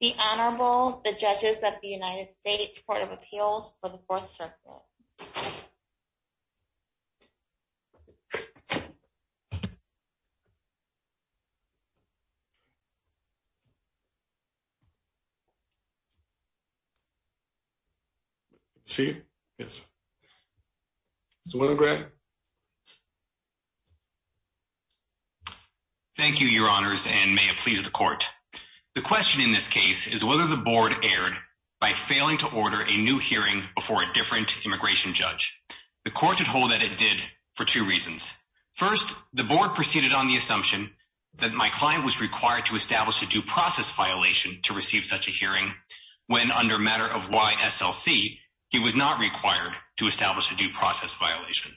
The Honorable, the Judges of the United States Court of Appeals for the Fourth Circle. Thank you, Your Honors, and may it please the Court. The question in this case is whether the Board erred by failing to order a new hearing before a different immigration judge. The Court should hold that it did for two reasons. First, the Board proceeded on the assumption that my client was required to establish a due process violation to receive such a hearing when, under matter of YSLC, he was not required to establish a due process violation.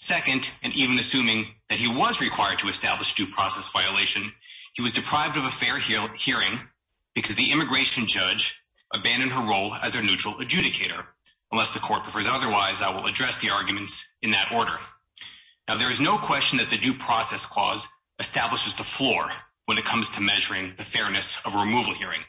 Second, and even assuming that he was required to establish a due process violation, he was deprived of a fair hearing because the immigration judge abandoned her role as a neutral adjudicator. Unless the Court prefers otherwise, I will address the arguments in that order. Now, there is no question that the due process clause establishes the floor when it comes to measuring the fairness of a removal hearing.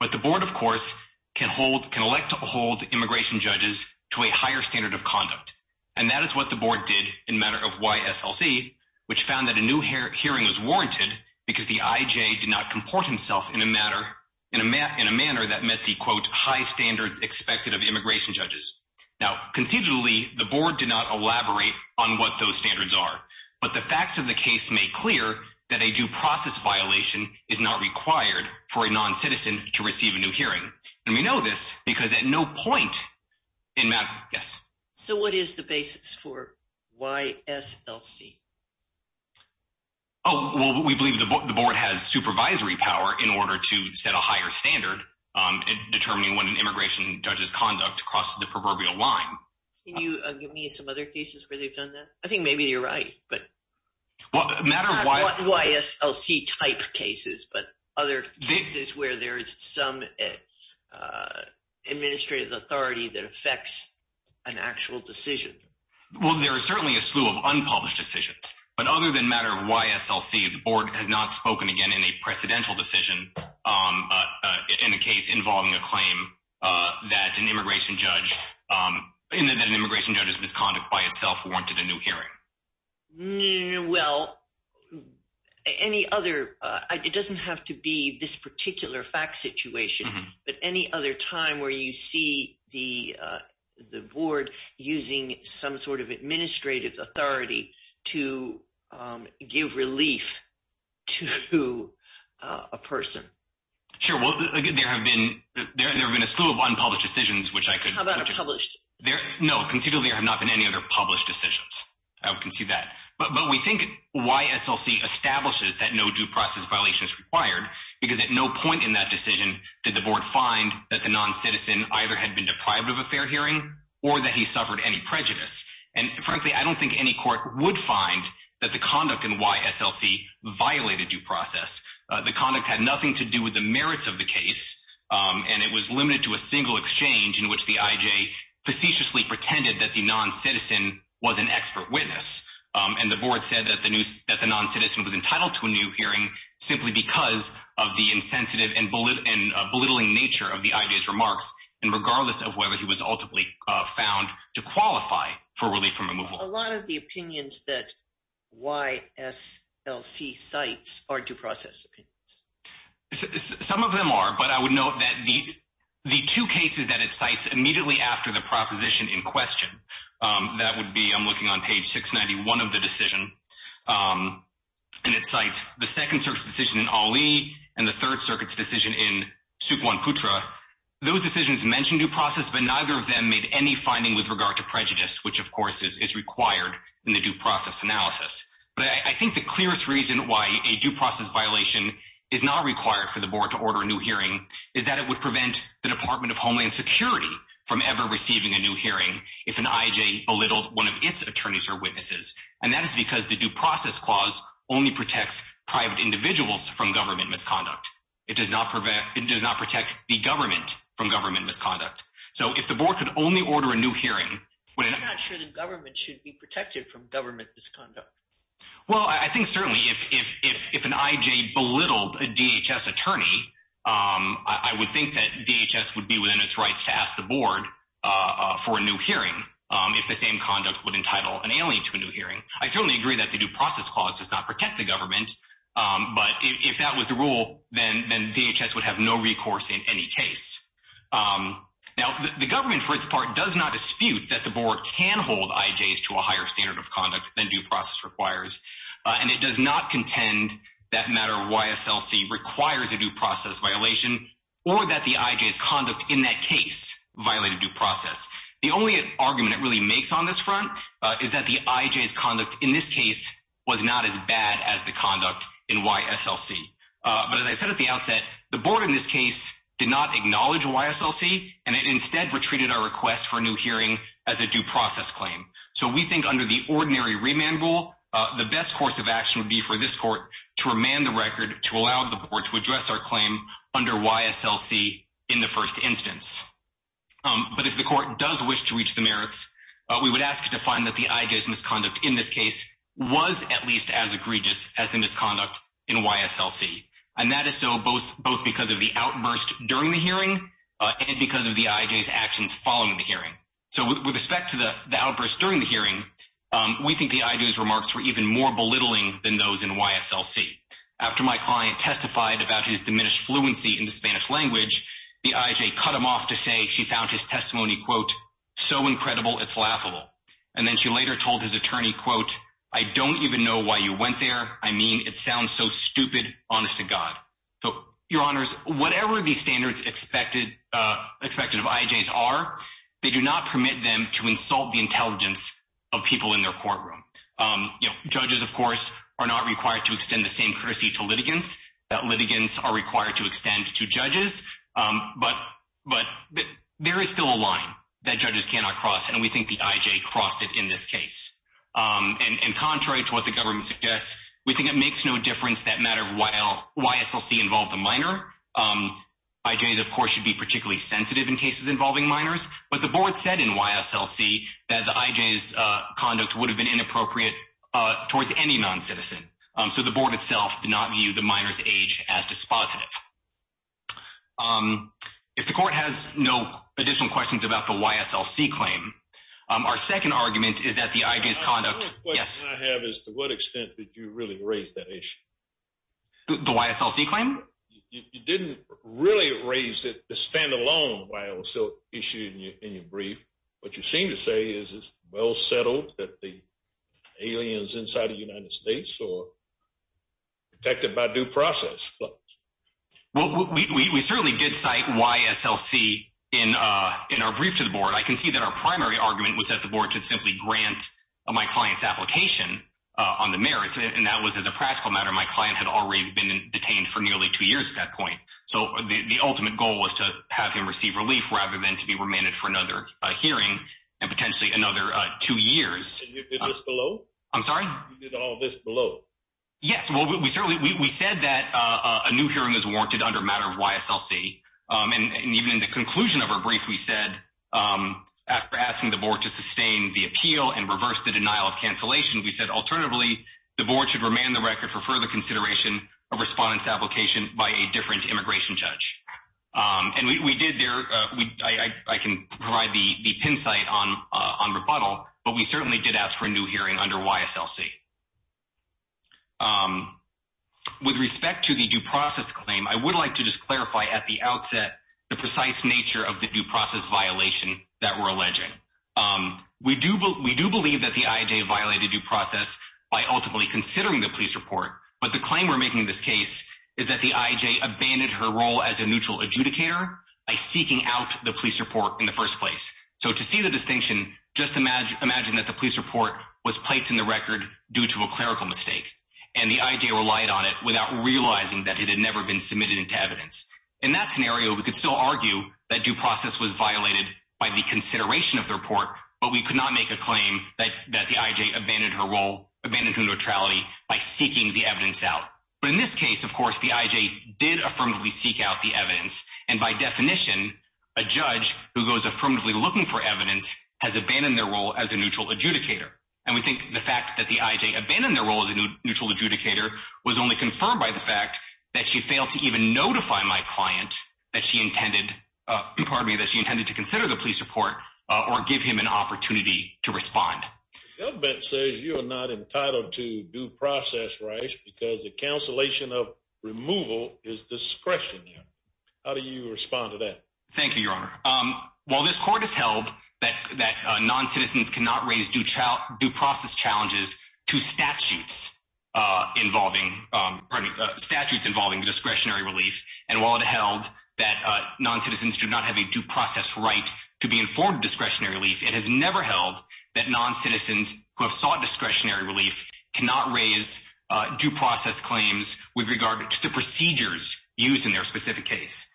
But the Board, of course, can elect to hold immigration judges to a higher standard of conduct. And that is what the Board did in matter of YSLC, which found that a new hearing was warranted because the IJ did not comport himself in a manner that met the, quote, high standards expected of immigration judges. Now, conceivably, the Board did not elaborate on what those standards are. But the facts of the case make clear that a due process violation is not required for a non-citizen to receive a new hearing. And we know this because at no point in matter... Yes? So what is the basis for YSLC? Oh, well, we believe the Board has supervisory power in order to set a higher standard in determining when an immigration judge's conduct crosses the proverbial line. Can you give me some other cases where they've done that? I think maybe you're right, but... Well, a matter of Y... Not YSLC-type cases, but other cases where there is some administrative authority that makes an actual decision. Well, there is certainly a slew of unpublished decisions. But other than matter of YSLC, the Board has not spoken again in a precedential decision in a case involving a claim that an immigration judge... that an immigration judge's misconduct by itself warranted a new hearing. Well, any other... It doesn't have to be this particular fact situation, but any other time where you see the Board using some sort of administrative authority to give relief to a person? Sure. Well, there have been... There have been a slew of unpublished decisions which I could... How about a published? No, conceivably there have not been any other published decisions. I can see that. But we think YSLC establishes that no due process violation is required because at no point in that decision did the Board find that the non-citizen either had been deprived of a fair hearing or that he suffered any prejudice. And frankly, I don't think any court would find that the conduct in YSLC violated due process. The conduct had nothing to do with the merits of the case, and it was limited to a single exchange in which the IJ facetiously pretended that the non-citizen was an expert witness. And the Board said that the non-citizen was entitled to a new hearing simply because of the insensitive and belittling nature of the IJ's remarks, and regardless of whether he was ultimately found to qualify for relief from removal. A lot of the opinions that YSLC cites are due process opinions. Some of them are, but I would note that the two cases that it cites immediately after the proposition in question, that would be, I'm looking on page 691 of the decision, and it cites the Second Circuit's decision in Ali and the Third Circuit's decision in Sukhwan Putra. Those decisions mentioned due process, but neither of them made any finding with regard to prejudice, which of course is required in the due process analysis. But I think the clearest reason why a due process violation is not required for the Board to order a new hearing is that it would prevent the Department of Homeland Security from ever receiving a new hearing if an IJ belittled one of its attorneys or witnesses. And that is because the due process clause only protects private individuals from government misconduct. It does not protect the government from government misconduct. So if the Board could only order a new hearing- I'm not sure the government should be protected from government misconduct. Well, I think certainly if an IJ belittled a DHS attorney, I would think that DHS would be within its rights to ask the Board for a new hearing if the same conduct would entitle an alien to a new hearing. I certainly agree that the due process clause does not protect the government, but if that was the rule, then DHS would have no recourse in any case. Now the government for its part does not dispute that the Board can hold IJs to a higher standard of conduct than due process requires, and it does not contend that matter of YSLC requires a due process violation or that the IJ's conduct in that case violate a due process. The only argument it really makes on this front is that the IJ's conduct in this case was not as bad as the conduct in YSLC. But as I said at the outset, the Board in this case did not acknowledge YSLC, and it instead retreated our request for a new hearing as a due process claim. So we think under the ordinary remand rule, the best course of action would be for this court to remand the record to allow the Board to address our claim under YSLC in the first instance. But if the court does wish to reach the merits, we would ask it to find that the IJ's misconduct in this case was at least as egregious as the misconduct in YSLC. And that is so both because of the outburst during the hearing and because of the IJ's actions following the hearing. So with respect to the outburst during the hearing, we think the IJ's remarks were even more belittling than those in YSLC. After my client testified about his diminished fluency in the Spanish language, the IJ cut him off to say she found his testimony, quote, so incredible, it's laughable. And then she later told his attorney, quote, I don't even know why you went there. I mean, it sounds so stupid, honest to God. So, Your Honors, whatever the standards expected of IJs are, they do not permit them to insult the intelligence of people in their courtroom. You know, judges, of course, are not required to extend the same courtesy to litigants. Litigants are required to extend to judges. But there is still a line that judges cannot cross, and we think the IJ crossed it in this case. And contrary to what the government suggests, we think it makes no difference that matter of why YSLC involved a minor, IJs, of course, should be particularly sensitive in cases involving minors. But the board said in YSLC that the IJ's conduct would have been inappropriate towards any non-citizen. So the board itself did not view the minor's age as dispositive. If the court has no additional questions about the YSLC claim, our second argument is that the IJ's conduct, yes. The only question I have is to what extent did you really raise that issue? The YSLC claim? You didn't really raise it, the standalone YSLC issue in your brief. What you seem to say is it's well settled that the alien's inside of the United States or protected by due process. We certainly did cite YSLC in our brief to the board. I can see that our primary argument was that the board should simply grant my client's application on the merits, and that was, as a practical matter, my client had already been detained for nearly two years at that point. So the ultimate goal was to have him receive relief rather than to be remanded for another hearing and potentially another two years. And you did this below? I'm sorry? You did all this below? Yes. Well, we certainly, we said that a new hearing is warranted under matter of YSLC, and even in the conclusion of our brief, we said, after asking the board to sustain the appeal and reverse the denial of cancellation, we said, alternatively, the board should remand the record for further consideration of respondent's application by a different immigration judge. And we did there, I can provide the pin site on rebuttal, but we certainly did ask for a new hearing under YSLC. With respect to the due process claim, I would like to just clarify at the outset the precise nature of the due process violation that we're alleging. We do believe that the IJ violated due process by ultimately considering the police report, but the claim we're making in this case is that the IJ abandoned her role as a neutral adjudicator by seeking out the police report in the first place. So to see the distinction, just imagine that the police report was placed in the record due to a clerical mistake, and the IJ relied on it without realizing that it had never been submitted into evidence. In that scenario, we could still argue that due process was violated by the consideration of the report, but we could not make a claim that the IJ abandoned her role, abandoned her neutrality by seeking the evidence out. But in this case, of course, the IJ did affirmatively seek out the evidence, and by definition, a judge who goes affirmatively looking for evidence has abandoned their role as a neutral adjudicator. And we think the fact that the IJ abandoned their role as a neutral adjudicator was only confirmed by the fact that she failed to even notify my client that she intended to consider the police report or give him an opportunity to respond. The government says you are not entitled to due process rights because the cancellation of removal is discretionary. How do you respond to that? Thank you, Your Honor. While this court has held that non-citizens cannot raise due process challenges to statutes involving discretionary relief, and while it held that non-citizens do not have a due process claim, it held that non-citizens who have sought discretionary relief cannot raise due process claims with regard to the procedures used in their specific case.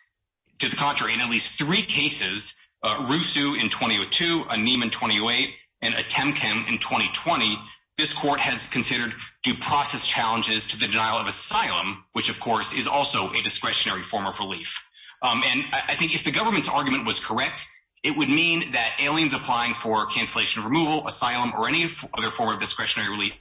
To the contrary, in at least three cases, Rusu in 2002, a Neiman in 2008, and a Temkin in 2020, this court has considered due process challenges to the denial of asylum, which of course is also a discretionary form of relief. And I think if the government's argument was correct, it would mean that aliens applying for cancellation of removal, asylum, or any other form of discretionary relief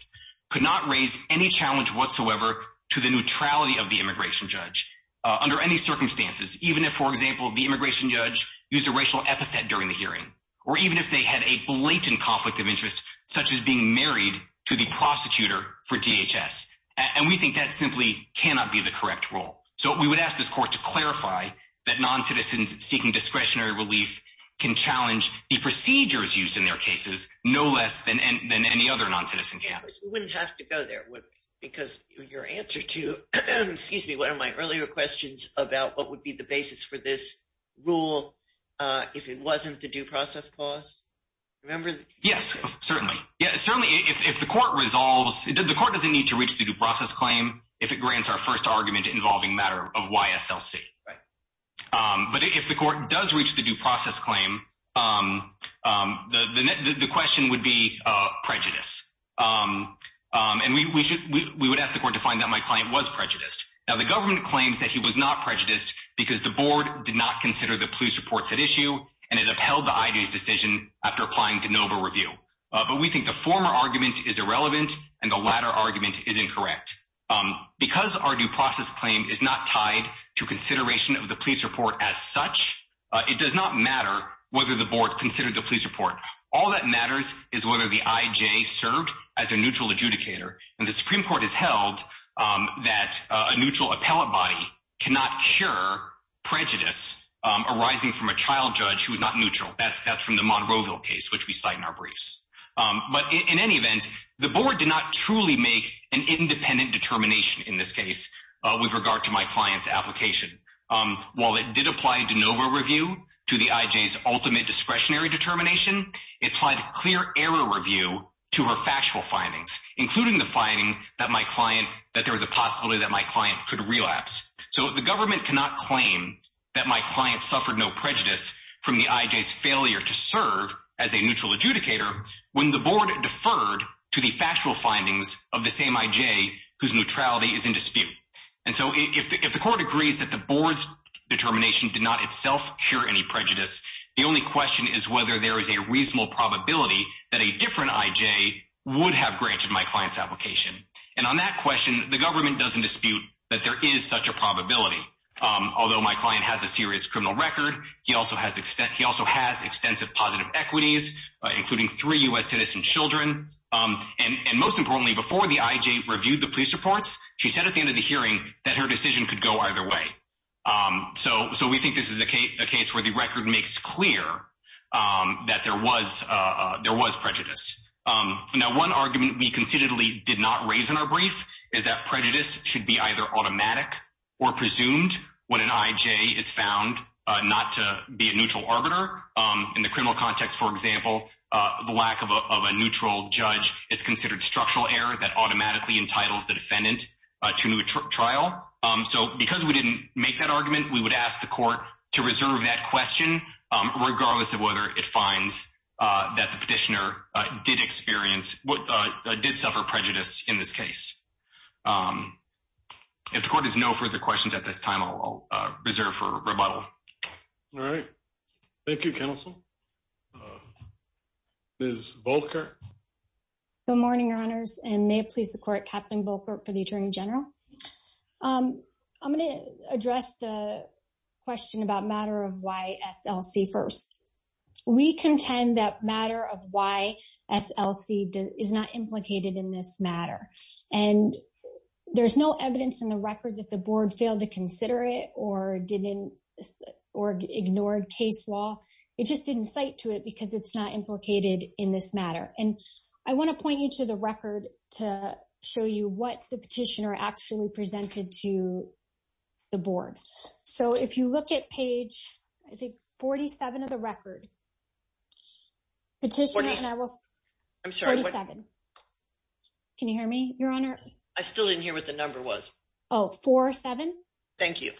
could not raise any challenge whatsoever to the neutrality of the immigration judge under any circumstances, even if, for example, the immigration judge used a racial epithet during the hearing, or even if they had a blatant conflict of interest, such as being married to the prosecutor for DHS. And we think that simply cannot be the correct rule. So we would ask this court to clarify that non-citizens seeking discretionary relief can challenge the procedures used in their cases no less than any other non-citizen can. We wouldn't have to go there, because your answer to, excuse me, one of my earlier questions about what would be the basis for this rule if it wasn't the due process clause, remember? Yes, certainly. Yes, certainly. If the court resolves, the court doesn't need to reach the due process claim if it grants our first argument involving matter of YSLC. Right. But if the court does reach the due process claim, the question would be prejudice. And we would ask the court to find out if my client was prejudiced. Now, the government claims that he was not prejudiced because the board did not consider the police reports at issue, and it upheld the IG's decision after applying to NOVA review. But we think the former argument is irrelevant, and the latter argument is incorrect. Because our due process claim is not tied to consideration of the police report as such, it does not matter whether the board considered the police report. All that matters is whether the IJ served as a neutral adjudicator. And the Supreme Court has held that a neutral appellate body cannot cure prejudice arising from a child judge who is not neutral. That's from the Monroeville case, which we cite in our briefs. But in any event, the board did not truly make an independent determination in this case with regard to my client's application. While it did apply to NOVA review to the IJ's ultimate discretionary determination, it applied clear error review to her factual findings, including the finding that there was a possibility that my client could relapse. So the government cannot claim that my client suffered no prejudice from the IJ's failure to serve as a neutral adjudicator when the board deferred to the factual findings of the same IJ whose neutrality is in dispute. And so if the court agrees that the board's determination did not itself cure any prejudice, the only question is whether there is a reasonable probability that a different IJ would have granted my client's application. And on that question, the government doesn't dispute that there is such a probability. Although my client has a serious criminal record, he also has extensive positive equities, including three U.S. citizen children. And most importantly, before the IJ reviewed the police reports, she said at the end of the hearing that her decision could go either way. So we think this is a case where the record makes clear that there was prejudice. Now one argument we considerably did not raise in our brief is that prejudice should be either automatic or presumed when an IJ is found not to be a neutral arbiter. In the criminal context, for example, the lack of a neutral judge is considered structural error that automatically entitles the defendant to a new trial. So because we didn't make that argument, we would ask the court to reserve that question regardless of whether it finds that the petitioner did experience, did suffer prejudice in this case. If the court has no further questions at this time, I'll reserve for rebuttal. All right. Thank you, counsel. Ms. Volker. Good morning, your honors, and may it please the court, Captain Volker for the Attorney General. I'm going to address the question about matter of why SLC first. We contend that matter of why SLC is not implicated in this matter, and there's no evidence in the record that the board failed to consider it or ignored case law. It just didn't cite to it because it's not implicated in this matter. And I want to point you to the record to show you what the petitioner actually presented to the board. So if you look at page, I think 47 of the record, petitioner, and I will, I'm sorry, 47. Can you hear me, your honor? I still didn't hear what the number was. Oh, 47. Thank you.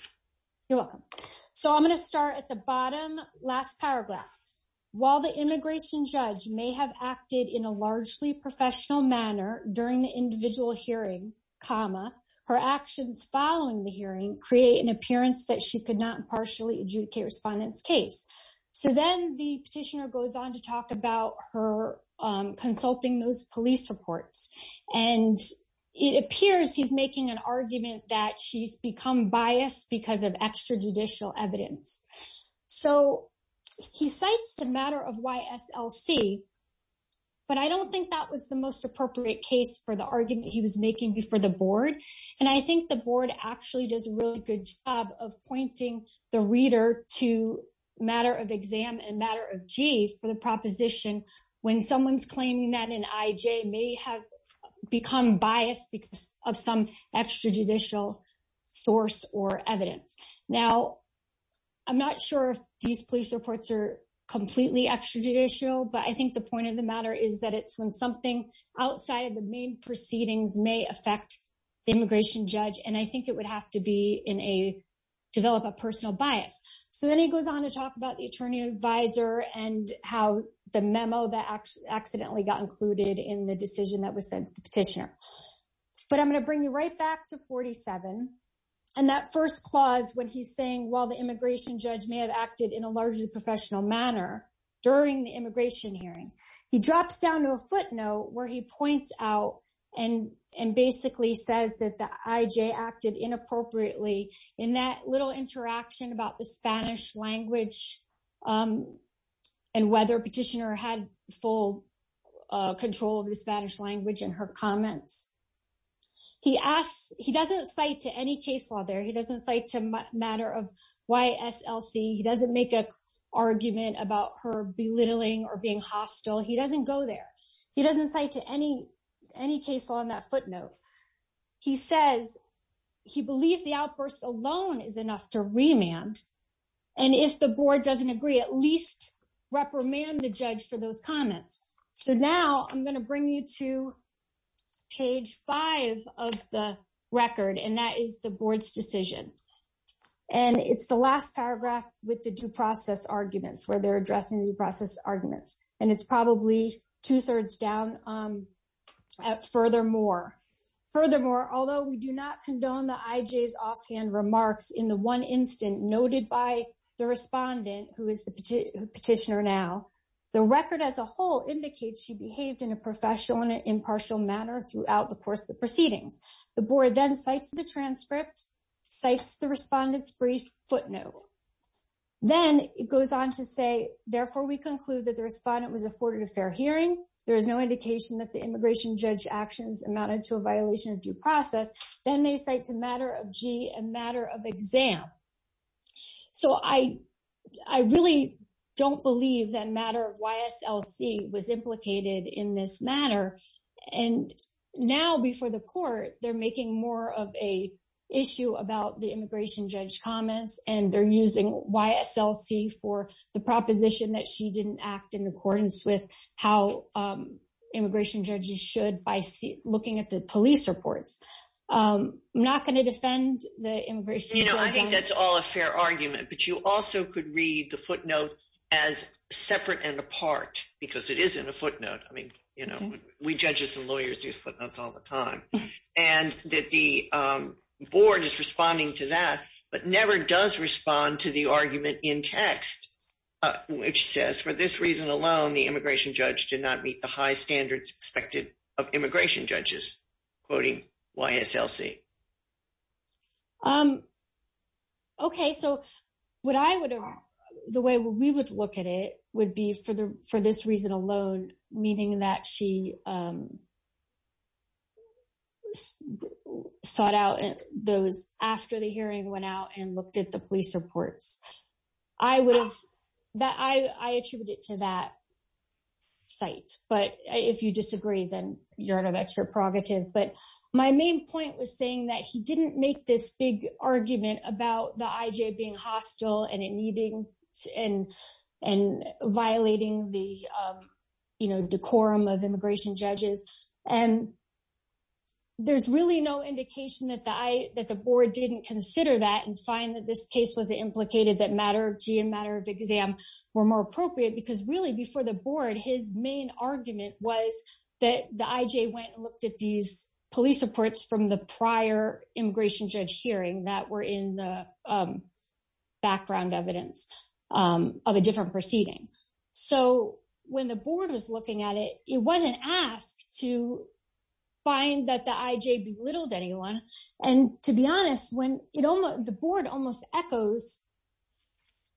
You're welcome. So I'm going to start at the bottom last paragraph. While the immigration judge may have acted in a largely professional manner during the appearance that she could not partially adjudicate respondent's case. So then the petitioner goes on to talk about her consulting those police reports. And it appears he's making an argument that she's become biased because of extrajudicial evidence. So he cites the matter of why SLC, but I don't think that was the most appropriate case for the argument he was making before the board. And I think the board actually does a really good job of pointing the reader to matter of exam and matter of G for the proposition when someone's claiming that an IJ may have become biased because of some extrajudicial source or evidence. Now, I'm not sure if these police reports are completely extrajudicial, but I think the point of the matter is that it's when something outside of the main proceedings may affect the immigration judge. And I think it would have to develop a personal bias. So then he goes on to talk about the attorney advisor and how the memo that accidentally got included in the decision that was sent to the petitioner. But I'm going to bring you right back to 47. And that first clause when he's saying while the immigration judge may have acted in a largely professional manner during the immigration hearing, he drops down to a footnote where he points out and basically says that the IJ acted inappropriately in that little interaction about the Spanish language and whether petitioner had full control of the Spanish language in her comments. He asks, he doesn't cite to any case law there. He doesn't cite to matter of YSLC. He doesn't make an argument about her belittling or being hostile. He doesn't go there. He doesn't cite to any case law on that footnote. He says he believes the outburst alone is enough to remand. And if the board doesn't agree, at least reprimand the judge for those comments. So now I'm going to bring you to page five of the record, and that is the board's decision. And it's the last paragraph with the due process arguments where they're addressing the process arguments. And it's probably two-thirds down at furthermore. Furthermore, although we do not condone the IJ's offhand remarks in the one instant noted by the respondent who is the petitioner now, the record as a whole indicates she behaved in a professional and impartial manner throughout the course of the proceedings. The board then cites the transcript, cites the respondent's brief footnote. Then it goes on to say, therefore, we conclude that the respondent was afforded a fair hearing. There is no indication that the immigration judge actions amounted to a violation of due process. Then they cite to matter of G and matter of exam. So I really don't believe that matter of YSLC was implicated in this matter. And now before the court, they're making more of a issue about the immigration judge comments, and they're using YSLC for the proposition that she didn't act in accordance with how immigration judges should by looking at the police reports. I'm not going to defend the immigration judge. I think that's all a fair argument, but you also could read the footnote as separate and apart because it isn't a footnote. I mean, you know, we judges and lawyers use footnotes all the time. And that the board is responding to that, but never does respond to the argument in text, which says, for this reason alone, the immigration judge did not meet the high standards expected of immigration judges, quoting YSLC. Okay, so what I would, the way we would look at it would be for this reason alone, meaning that she sought out those after the hearing went out and looked at the police reports. I would have, I attribute it to that site. But if you disagree, then you're out of extra prerogative. But my main point was saying that he didn't make this big argument about the IJ being decorum of immigration judges. And there's really no indication that the I, that the board didn't consider that and find that this case was implicated that matter of G and matter of exam were more appropriate because really before the board, his main argument was that the IJ went and looked at these police reports from the prior immigration judge hearing that were in the background evidence of a different proceeding. So when the board was looking at it, it wasn't asked to find that the IJ belittled anyone. And to be honest, when the board almost echoes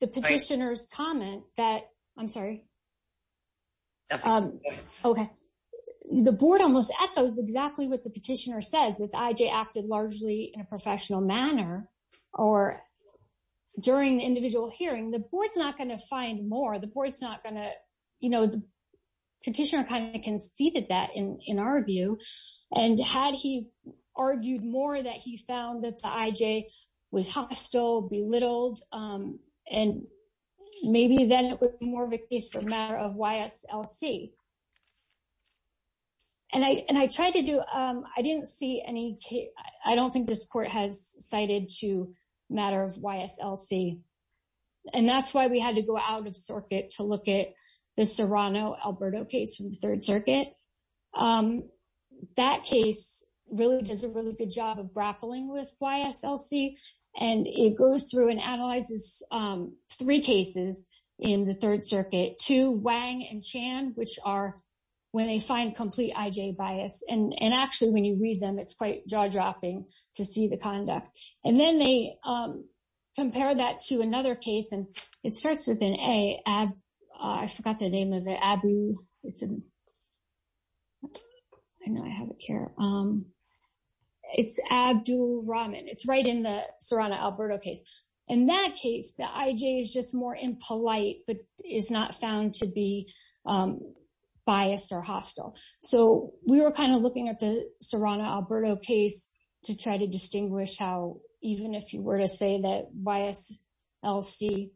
the petitioner's comment that, I'm sorry. Okay, the board almost echoes exactly what the petitioner says that the IJ acted largely in a professional manner or during the individual hearing, the board's not going to find more. The petitioner kind of conceded that in our view. And had he argued more that he found that the IJ was hostile, belittled, and maybe then it would be more of a case for matter of YSLC. And I tried to do, I didn't see any case. I don't think this court has cited to matter of YSLC. And that's why we had to go out of circuit to look at the Serrano-Alberto case from the Third Circuit. That case really does a really good job of grappling with YSLC. And it goes through and analyzes three cases in the Third Circuit, two Wang and Chan, which are when they find complete IJ bias. And actually when you read them, it's quite jaw-dropping to see the conduct. And then they compare that to another case. And it starts with an A, I forgot the name of it. Abu, I know I have it here. It's Abdul Rahman. It's right in the Serrano-Alberto case. In that case, the IJ is just more impolite, but is not found to be biased or hostile. So we were kind of looking at the Serrano-Alberto case to try to distinguish how even if you were to say that YSLC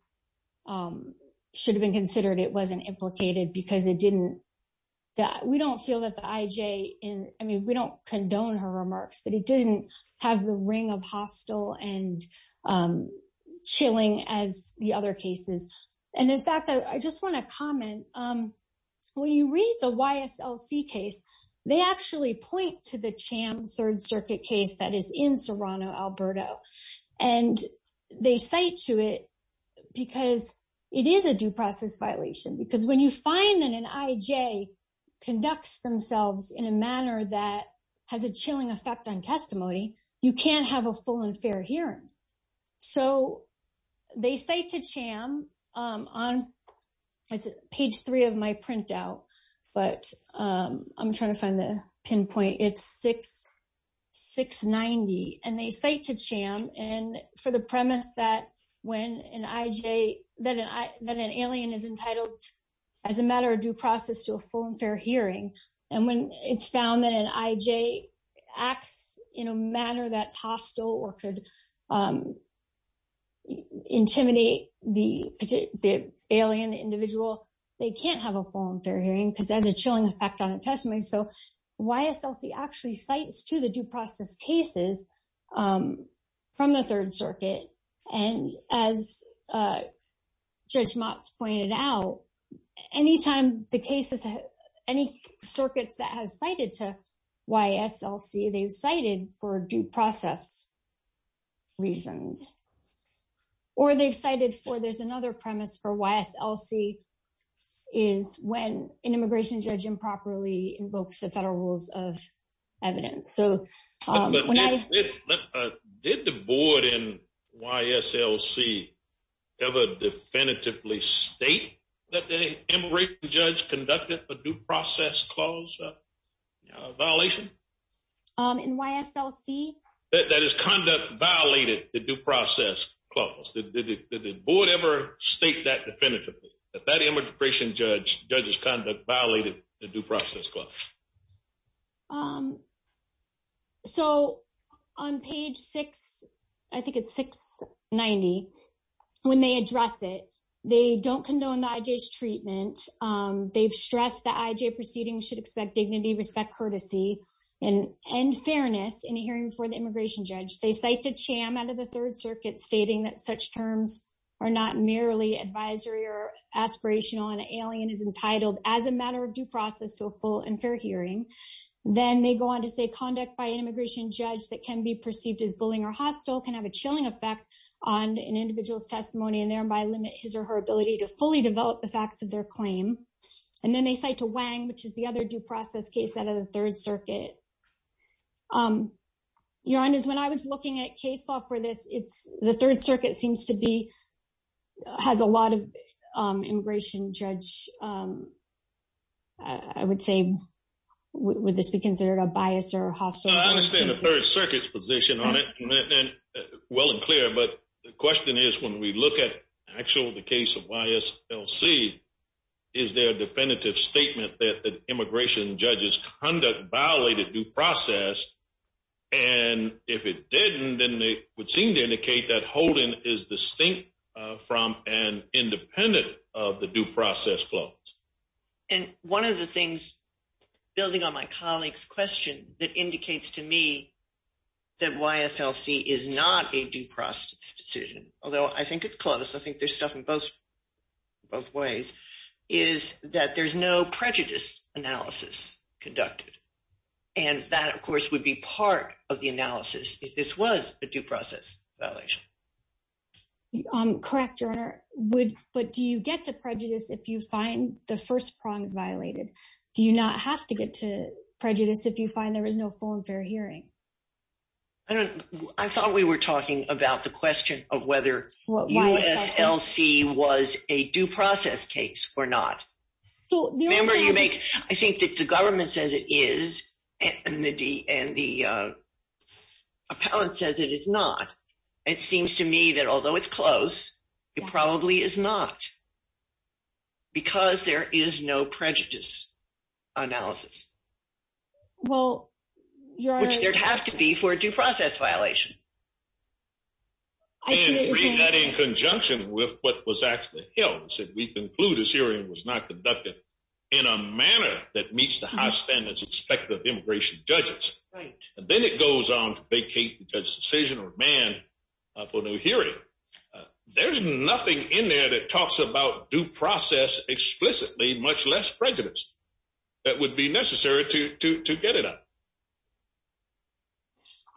should have been considered, it wasn't implicated because it didn't, we don't feel that the IJ in, I mean, we don't condone her remarks, but it didn't have the ring of hostile and chilling as the other cases. And in fact, I just want to comment. When you read the YSLC case, they actually point to the Cham Third Circuit case that is in Serrano-Alberto. And they cite to it because it is a due process violation. Because when you find that an IJ conducts themselves in a manner that has a chilling effect on testimony, you can't have a full and fair hearing. So they cite to Cham on page three of my printout, but I'm trying to find the pinpoint. It's 690. And they cite to Cham for the premise that when an IJ, that an alien is entitled as a matter of due process to a full and fair hearing. And when it's found that an IJ acts in a manner that's hostile or could intimidate the alien individual, they can't have a full and fair hearing because there's a chilling effect on a testimony. So YSLC actually cites to the due process cases from the Third Circuit. And as Judge Motz pointed out, any time the cases, any circuits that have cited to YSLC, they've cited for due process reasons. Or they've cited for there's another premise for YSLC is when an immigration judge improperly invokes the federal rules of evidence. But did the board in YSLC ever definitively state that the immigration judge conducted a due process clause violation? In YSLC? That his conduct violated the due process clause. Did the board ever state that definitively, that that immigration judge, judge's conduct violated the due process clause? So on page six, I think it's 690, when they address it, they don't condone the IJ's treatment. They've stressed that IJ proceedings should expect dignity, respect, courtesy, and fairness in a hearing for the immigration judge. They cite to CHAM out of the Third Circuit stating that such terms are not merely advisory or aspirational and alien is entitled as a matter of due process to a full and fair hearing. Then they go on to say conduct by an immigration judge that can be perceived as bullying or hostile can have a chilling effect on an individual's testimony and thereby limit his or her ability to fully develop the facts of their claim. And then they cite to Wang, which is the other due process case out of the Third Circuit. Your honors, when I was looking at case law for this, it's the Third Circuit seems to have a lot of immigration judge, I would say, would this be considered a bias or hostile? I understand the Third Circuit's position on it, well and clear, but the question is when we look at actual the case of YSLC, is there a definitive statement that immigration judge's conduct violated due process? And if it didn't, then they would seem to indicate that Holden is distinct from and independent of the due process clause. And one of the things building on my colleague's question that indicates to me that YSLC is not a due process decision, although I think it's close, I think there's stuff in both ways, is that there's no prejudice analysis conducted. And that, of course, would be part of the analysis if this was a due process violation. Correct, your honor, but do you get to prejudice if you find the first prong is violated? Do you not have to get to prejudice if you find there is no full and fair hearing? I thought we were talking about the question of whether YSLC was a due process case or not. So remember you make, I think that the government says it is and the appellant says it is not. It seems to me that although it's close, it probably is not because there is no prejudice analysis. Well, your honor. Which there'd have to be for a due process violation. I didn't read that in conjunction with what was actually held. We conclude this hearing was not conducted in a manner that meets the high standards expected of immigration judges. Then it goes on to vacate the judge's decision or demand for a new hearing. There's nothing in there that talks about due process explicitly, much less prejudice that would be necessary to get it up.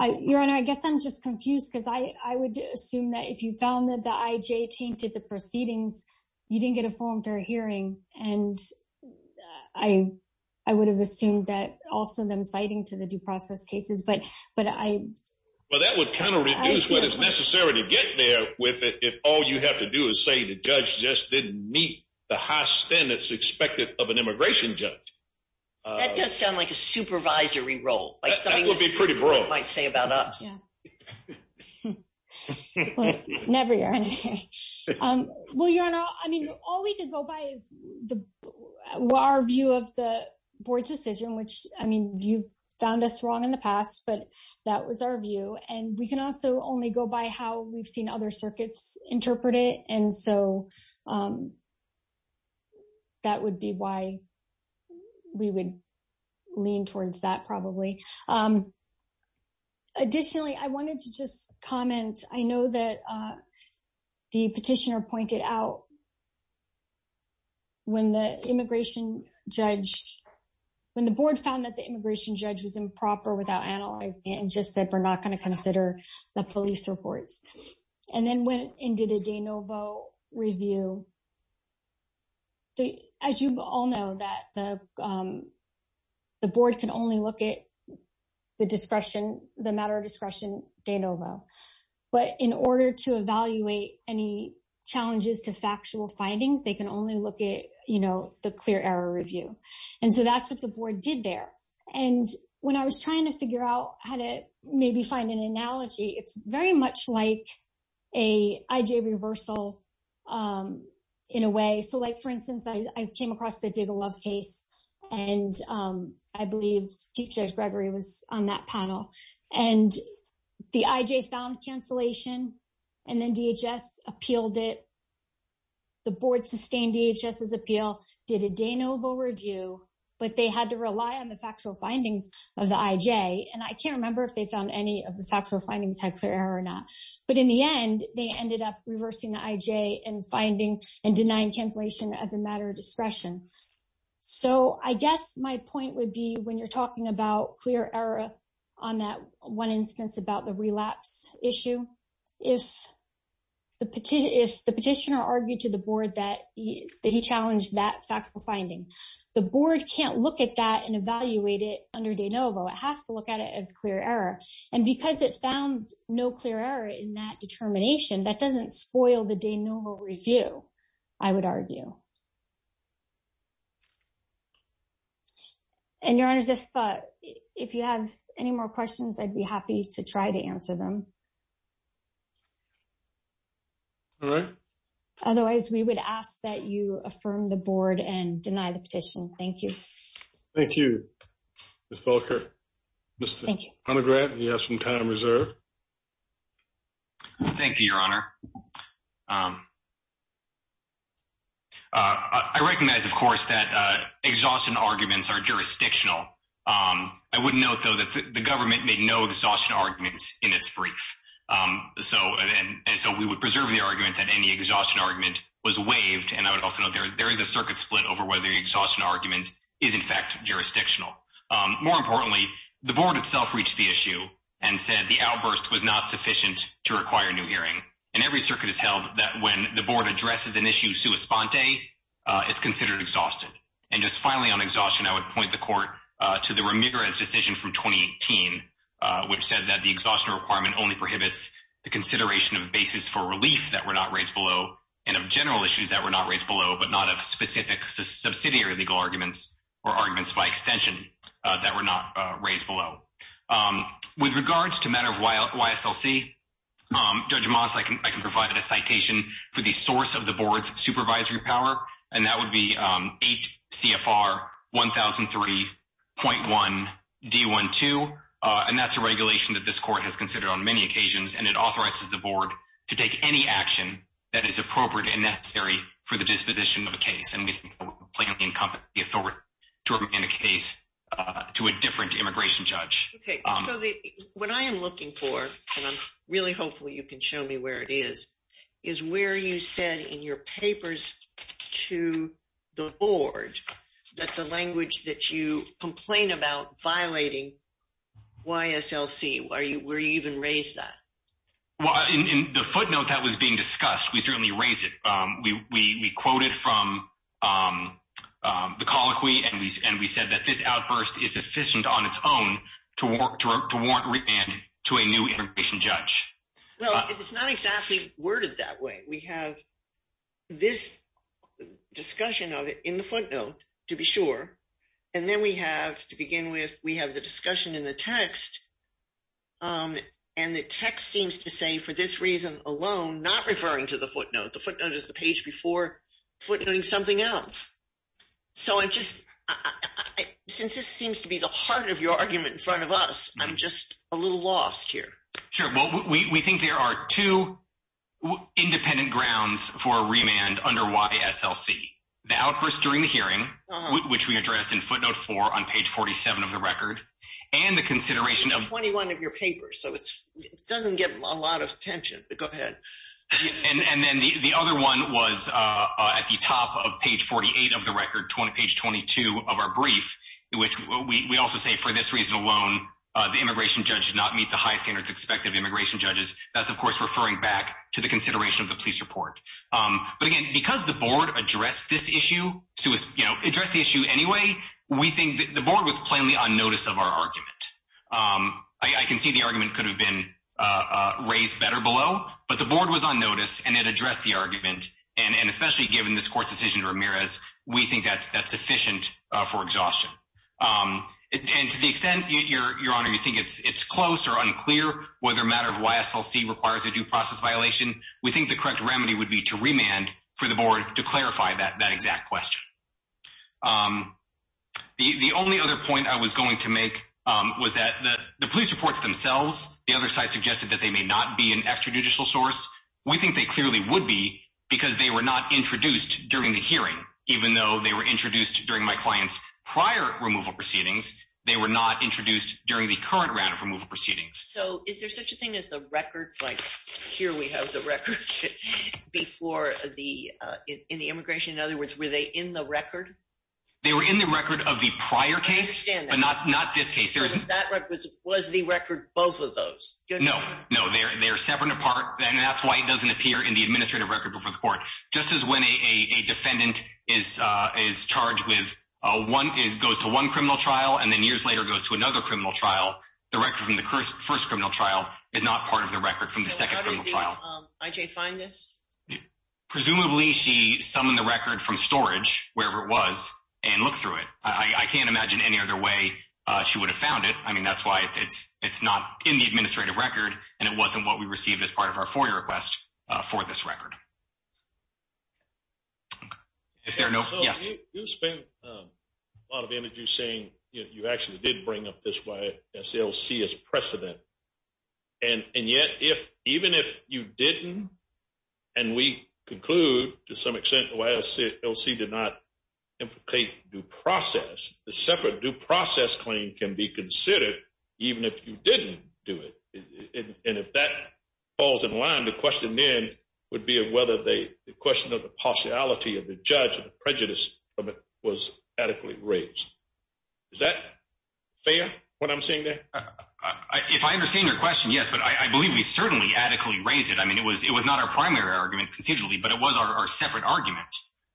Your honor, I guess I'm just confused because I would assume that if you found that the IJ tainted the proceedings, you didn't get a full and fair hearing and I would have assumed that also them citing to the due process cases. Well, that would kind of reduce what is necessary to get there if all you have to do is say the judge just didn't meet the high standards expected of an immigration judge. That does sound like a supervisory role. That would be pretty broad. Might say about us. Never your honor. Well, your honor, I mean, all we could go by is our view of the board's decision, which I mean, you've found us wrong in the past, but that was our view. And we can also only go by how we've seen other circuits interpret it. And so that would be why we would lean towards that probably. Additionally, I wanted to just comment. I know that the petitioner pointed out when the board found that the immigration judge was improper without analyzing it and just said we're not going to consider the police reports and then went and did a de novo review. As you all know that the board can only look at the matter of discretion de novo. But in order to evaluate any challenges to factual findings, they can only look at the clear error review. And so that's what the board did there. And when I was trying to figure out how to maybe find an analogy, it's very much like a reversal in a way. So like, for instance, I came across the love case and I believe teachers Gregory was on that panel. And the IJ found cancellation and then DHS appealed it. The board sustained DHS's appeal, did a de novo review, but they had to rely on the factual findings of the IJ. And I can't remember if they found any of the factual findings had clear error or not. But in the end, they ended up reversing the IJ and finding and denying cancellation as a matter of discretion. So I guess my point would be when you're talking about clear error on that one instance about the relapse issue, if the petitioner argued to the board that he challenged that factual finding, the board can't look at that and evaluate it under de novo. It has to look at it as clear error. And because it found no clear error in that determination, that doesn't spoil the de novo review, I would argue. And, Your Honors, if you have any more questions, I'd be happy to try to answer them. All right. Otherwise, we would ask that you affirm the board and deny the petition. Thank you. Thank you, Ms. Volker. Thank you. Mr. Honegrant, you have some time reserved. Thank you, Your Honor. I recognize, of course, that exhaustion arguments are jurisdictional. I would note, though, that the government made no exhaustion arguments in its brief. So we would preserve the argument that any exhaustion argument was waived. And I would also note there is a circuit split over whether the exhaustion argument is, in fact, jurisdictional. More importantly, the board itself reached the issue and said the outburst was not sufficient to require a new hearing. And every circuit has held that when the board addresses an issue sua sponte, it's considered exhausted. And just finally on exhaustion, I would point the court to the Ramirez decision from 2018, which said that the exhaustion requirement only prohibits the consideration of basis for relief that were not raised below and of general issues that were not raised below, but not of specific subsidiary legal arguments or arguments by extension that were not raised below. With regards to matter of YSLC, Judge Motz, I can provide a citation for the source of the board's supervisory power. And that would be 8 CFR 1003.1 D12. And that's a regulation that this court has considered on many occasions. And it authorizes the board to take any action that is appropriate and necessary for the disposition of a case. And we think that would plainly incumbent the authority to remain a case to a different immigration judge. So what I am looking for, and I'm really hopeful you can show me where it is, is where you said in your papers to the board that the language that you complain about violating YSLC, were you even raised that? Well, in the footnote that was being discussed, we certainly raised it. We quoted from the colloquy and we said that this outburst is sufficient on its own to warrant remand to a new immigration judge. Well, it's not exactly worded that way. We have this discussion of it in the footnote, to be sure. And then we have, to begin with, we have the discussion in the text. And the text seems to say, for this reason alone, not referring to the footnote. The footnote is the page before footnoting something else. So I'm just, since this seems to be the heart of your argument in front of us, I'm just a little lost here. Sure. Well, we think there are two independent grounds for a remand under YSLC. The outburst during the hearing, which we addressed in footnote four on page 47 of the record, and the consideration of- 21 of your papers. So it doesn't get a lot of attention, but go ahead. And then the other one was at the top of page 48 of the record, page 22 of our brief, which we also say, for this reason alone, the immigration judge did not meet the high standards expected of immigration judges. That's, of course, referring back to the consideration of the police report. But again, because the board addressed this issue, addressed the issue anyway, we think the board was plainly on notice of our argument. I can see the argument could have been raised better below, but the board was on notice and it addressed the argument. And especially given this court's decision to Ramirez, we think that's sufficient for exhaustion. And to the extent, your honor, you think it's close or unclear whether a matter of YSLC requires a due process violation, we think the correct remedy would be to remand for the board to clarify that exact question. The only other point I was going to make was that the police reports themselves, the other judicial source, we think they clearly would be because they were not introduced during the hearing, even though they were introduced during my client's prior removal proceedings, they were not introduced during the current round of removal proceedings. So is there such a thing as the record? Like, here we have the record before the, in the immigration. In other words, were they in the record? They were in the record of the prior case, but not this case. Was the record both of those? No, no, they're separate and apart. That's why it doesn't appear in the administrative record before the court. Just as when a defendant is charged with, goes to one criminal trial and then years later goes to another criminal trial, the record from the first criminal trial is not part of the record from the second criminal trial. So how did IJ find this? Presumably she summoned the record from storage, wherever it was, and looked through it. I can't imagine any other way she would have found it. That's why it's not in the administrative record, and it wasn't what we received as part of our FOIA request for this record. If there are no, yes. So you spent a lot of energy saying you actually did bring up this YSLC as precedent. And yet, even if you didn't, and we conclude to some extent YSLC did not implicate due process claim can be considered even if you didn't do it. And if that falls in line, the question then would be whether the question of the partiality of the judge and the prejudice from it was adequately raised. Is that fair, what I'm saying there? If I understand your question, yes. But I believe we certainly adequately raised it. I mean, it was not our primary argument concisely, but it was our separate argument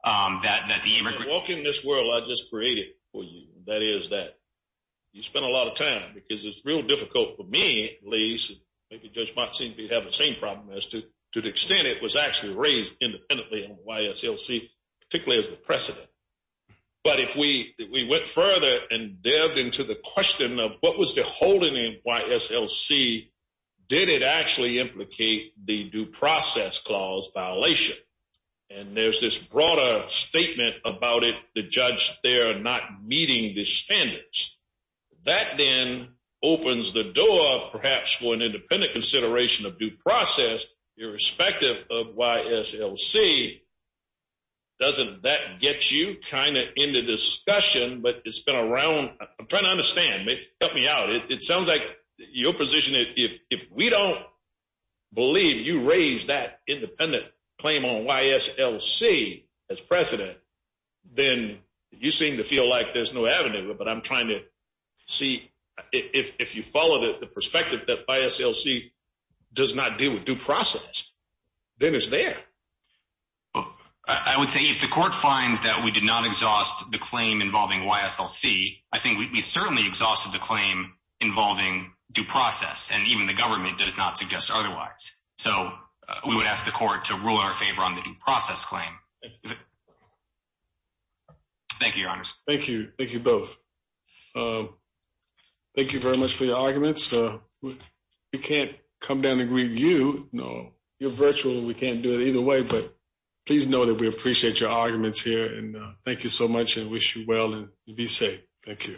that the you spent a lot of time, because it's real difficult for me, at least, maybe Judge Markson could have the same problem as to the extent it was actually raised independently on YSLC, particularly as the precedent. But if we went further and delved into the question of what was the holding in YSLC, did it actually implicate the due process clause violation? And there's this broader statement about it, the judge there not meeting the standards. That then opens the door, perhaps, for an independent consideration of due process, irrespective of YSLC. Doesn't that get you kind of into discussion? But it's been around. I'm trying to understand, help me out. It sounds like your position, if we don't believe you raised that independent claim on YSLC as precedent, then you seem to feel like there's no avenue. But I'm trying to see if you follow the perspective that YSLC does not deal with due process, then it's there. I would say if the court finds that we did not exhaust the claim involving YSLC, I think we certainly exhausted the claim involving due process, and even the government does not suggest otherwise. So we would ask the court to rule in our favor on the due process claim. Thank you, your honors. Thank you. Thank you both. Thank you very much for your arguments. We can't come down and greet you. No, you're virtual. We can't do it either way. But please know that we appreciate your arguments here. And thank you so much and wish you well and be safe. Thank you.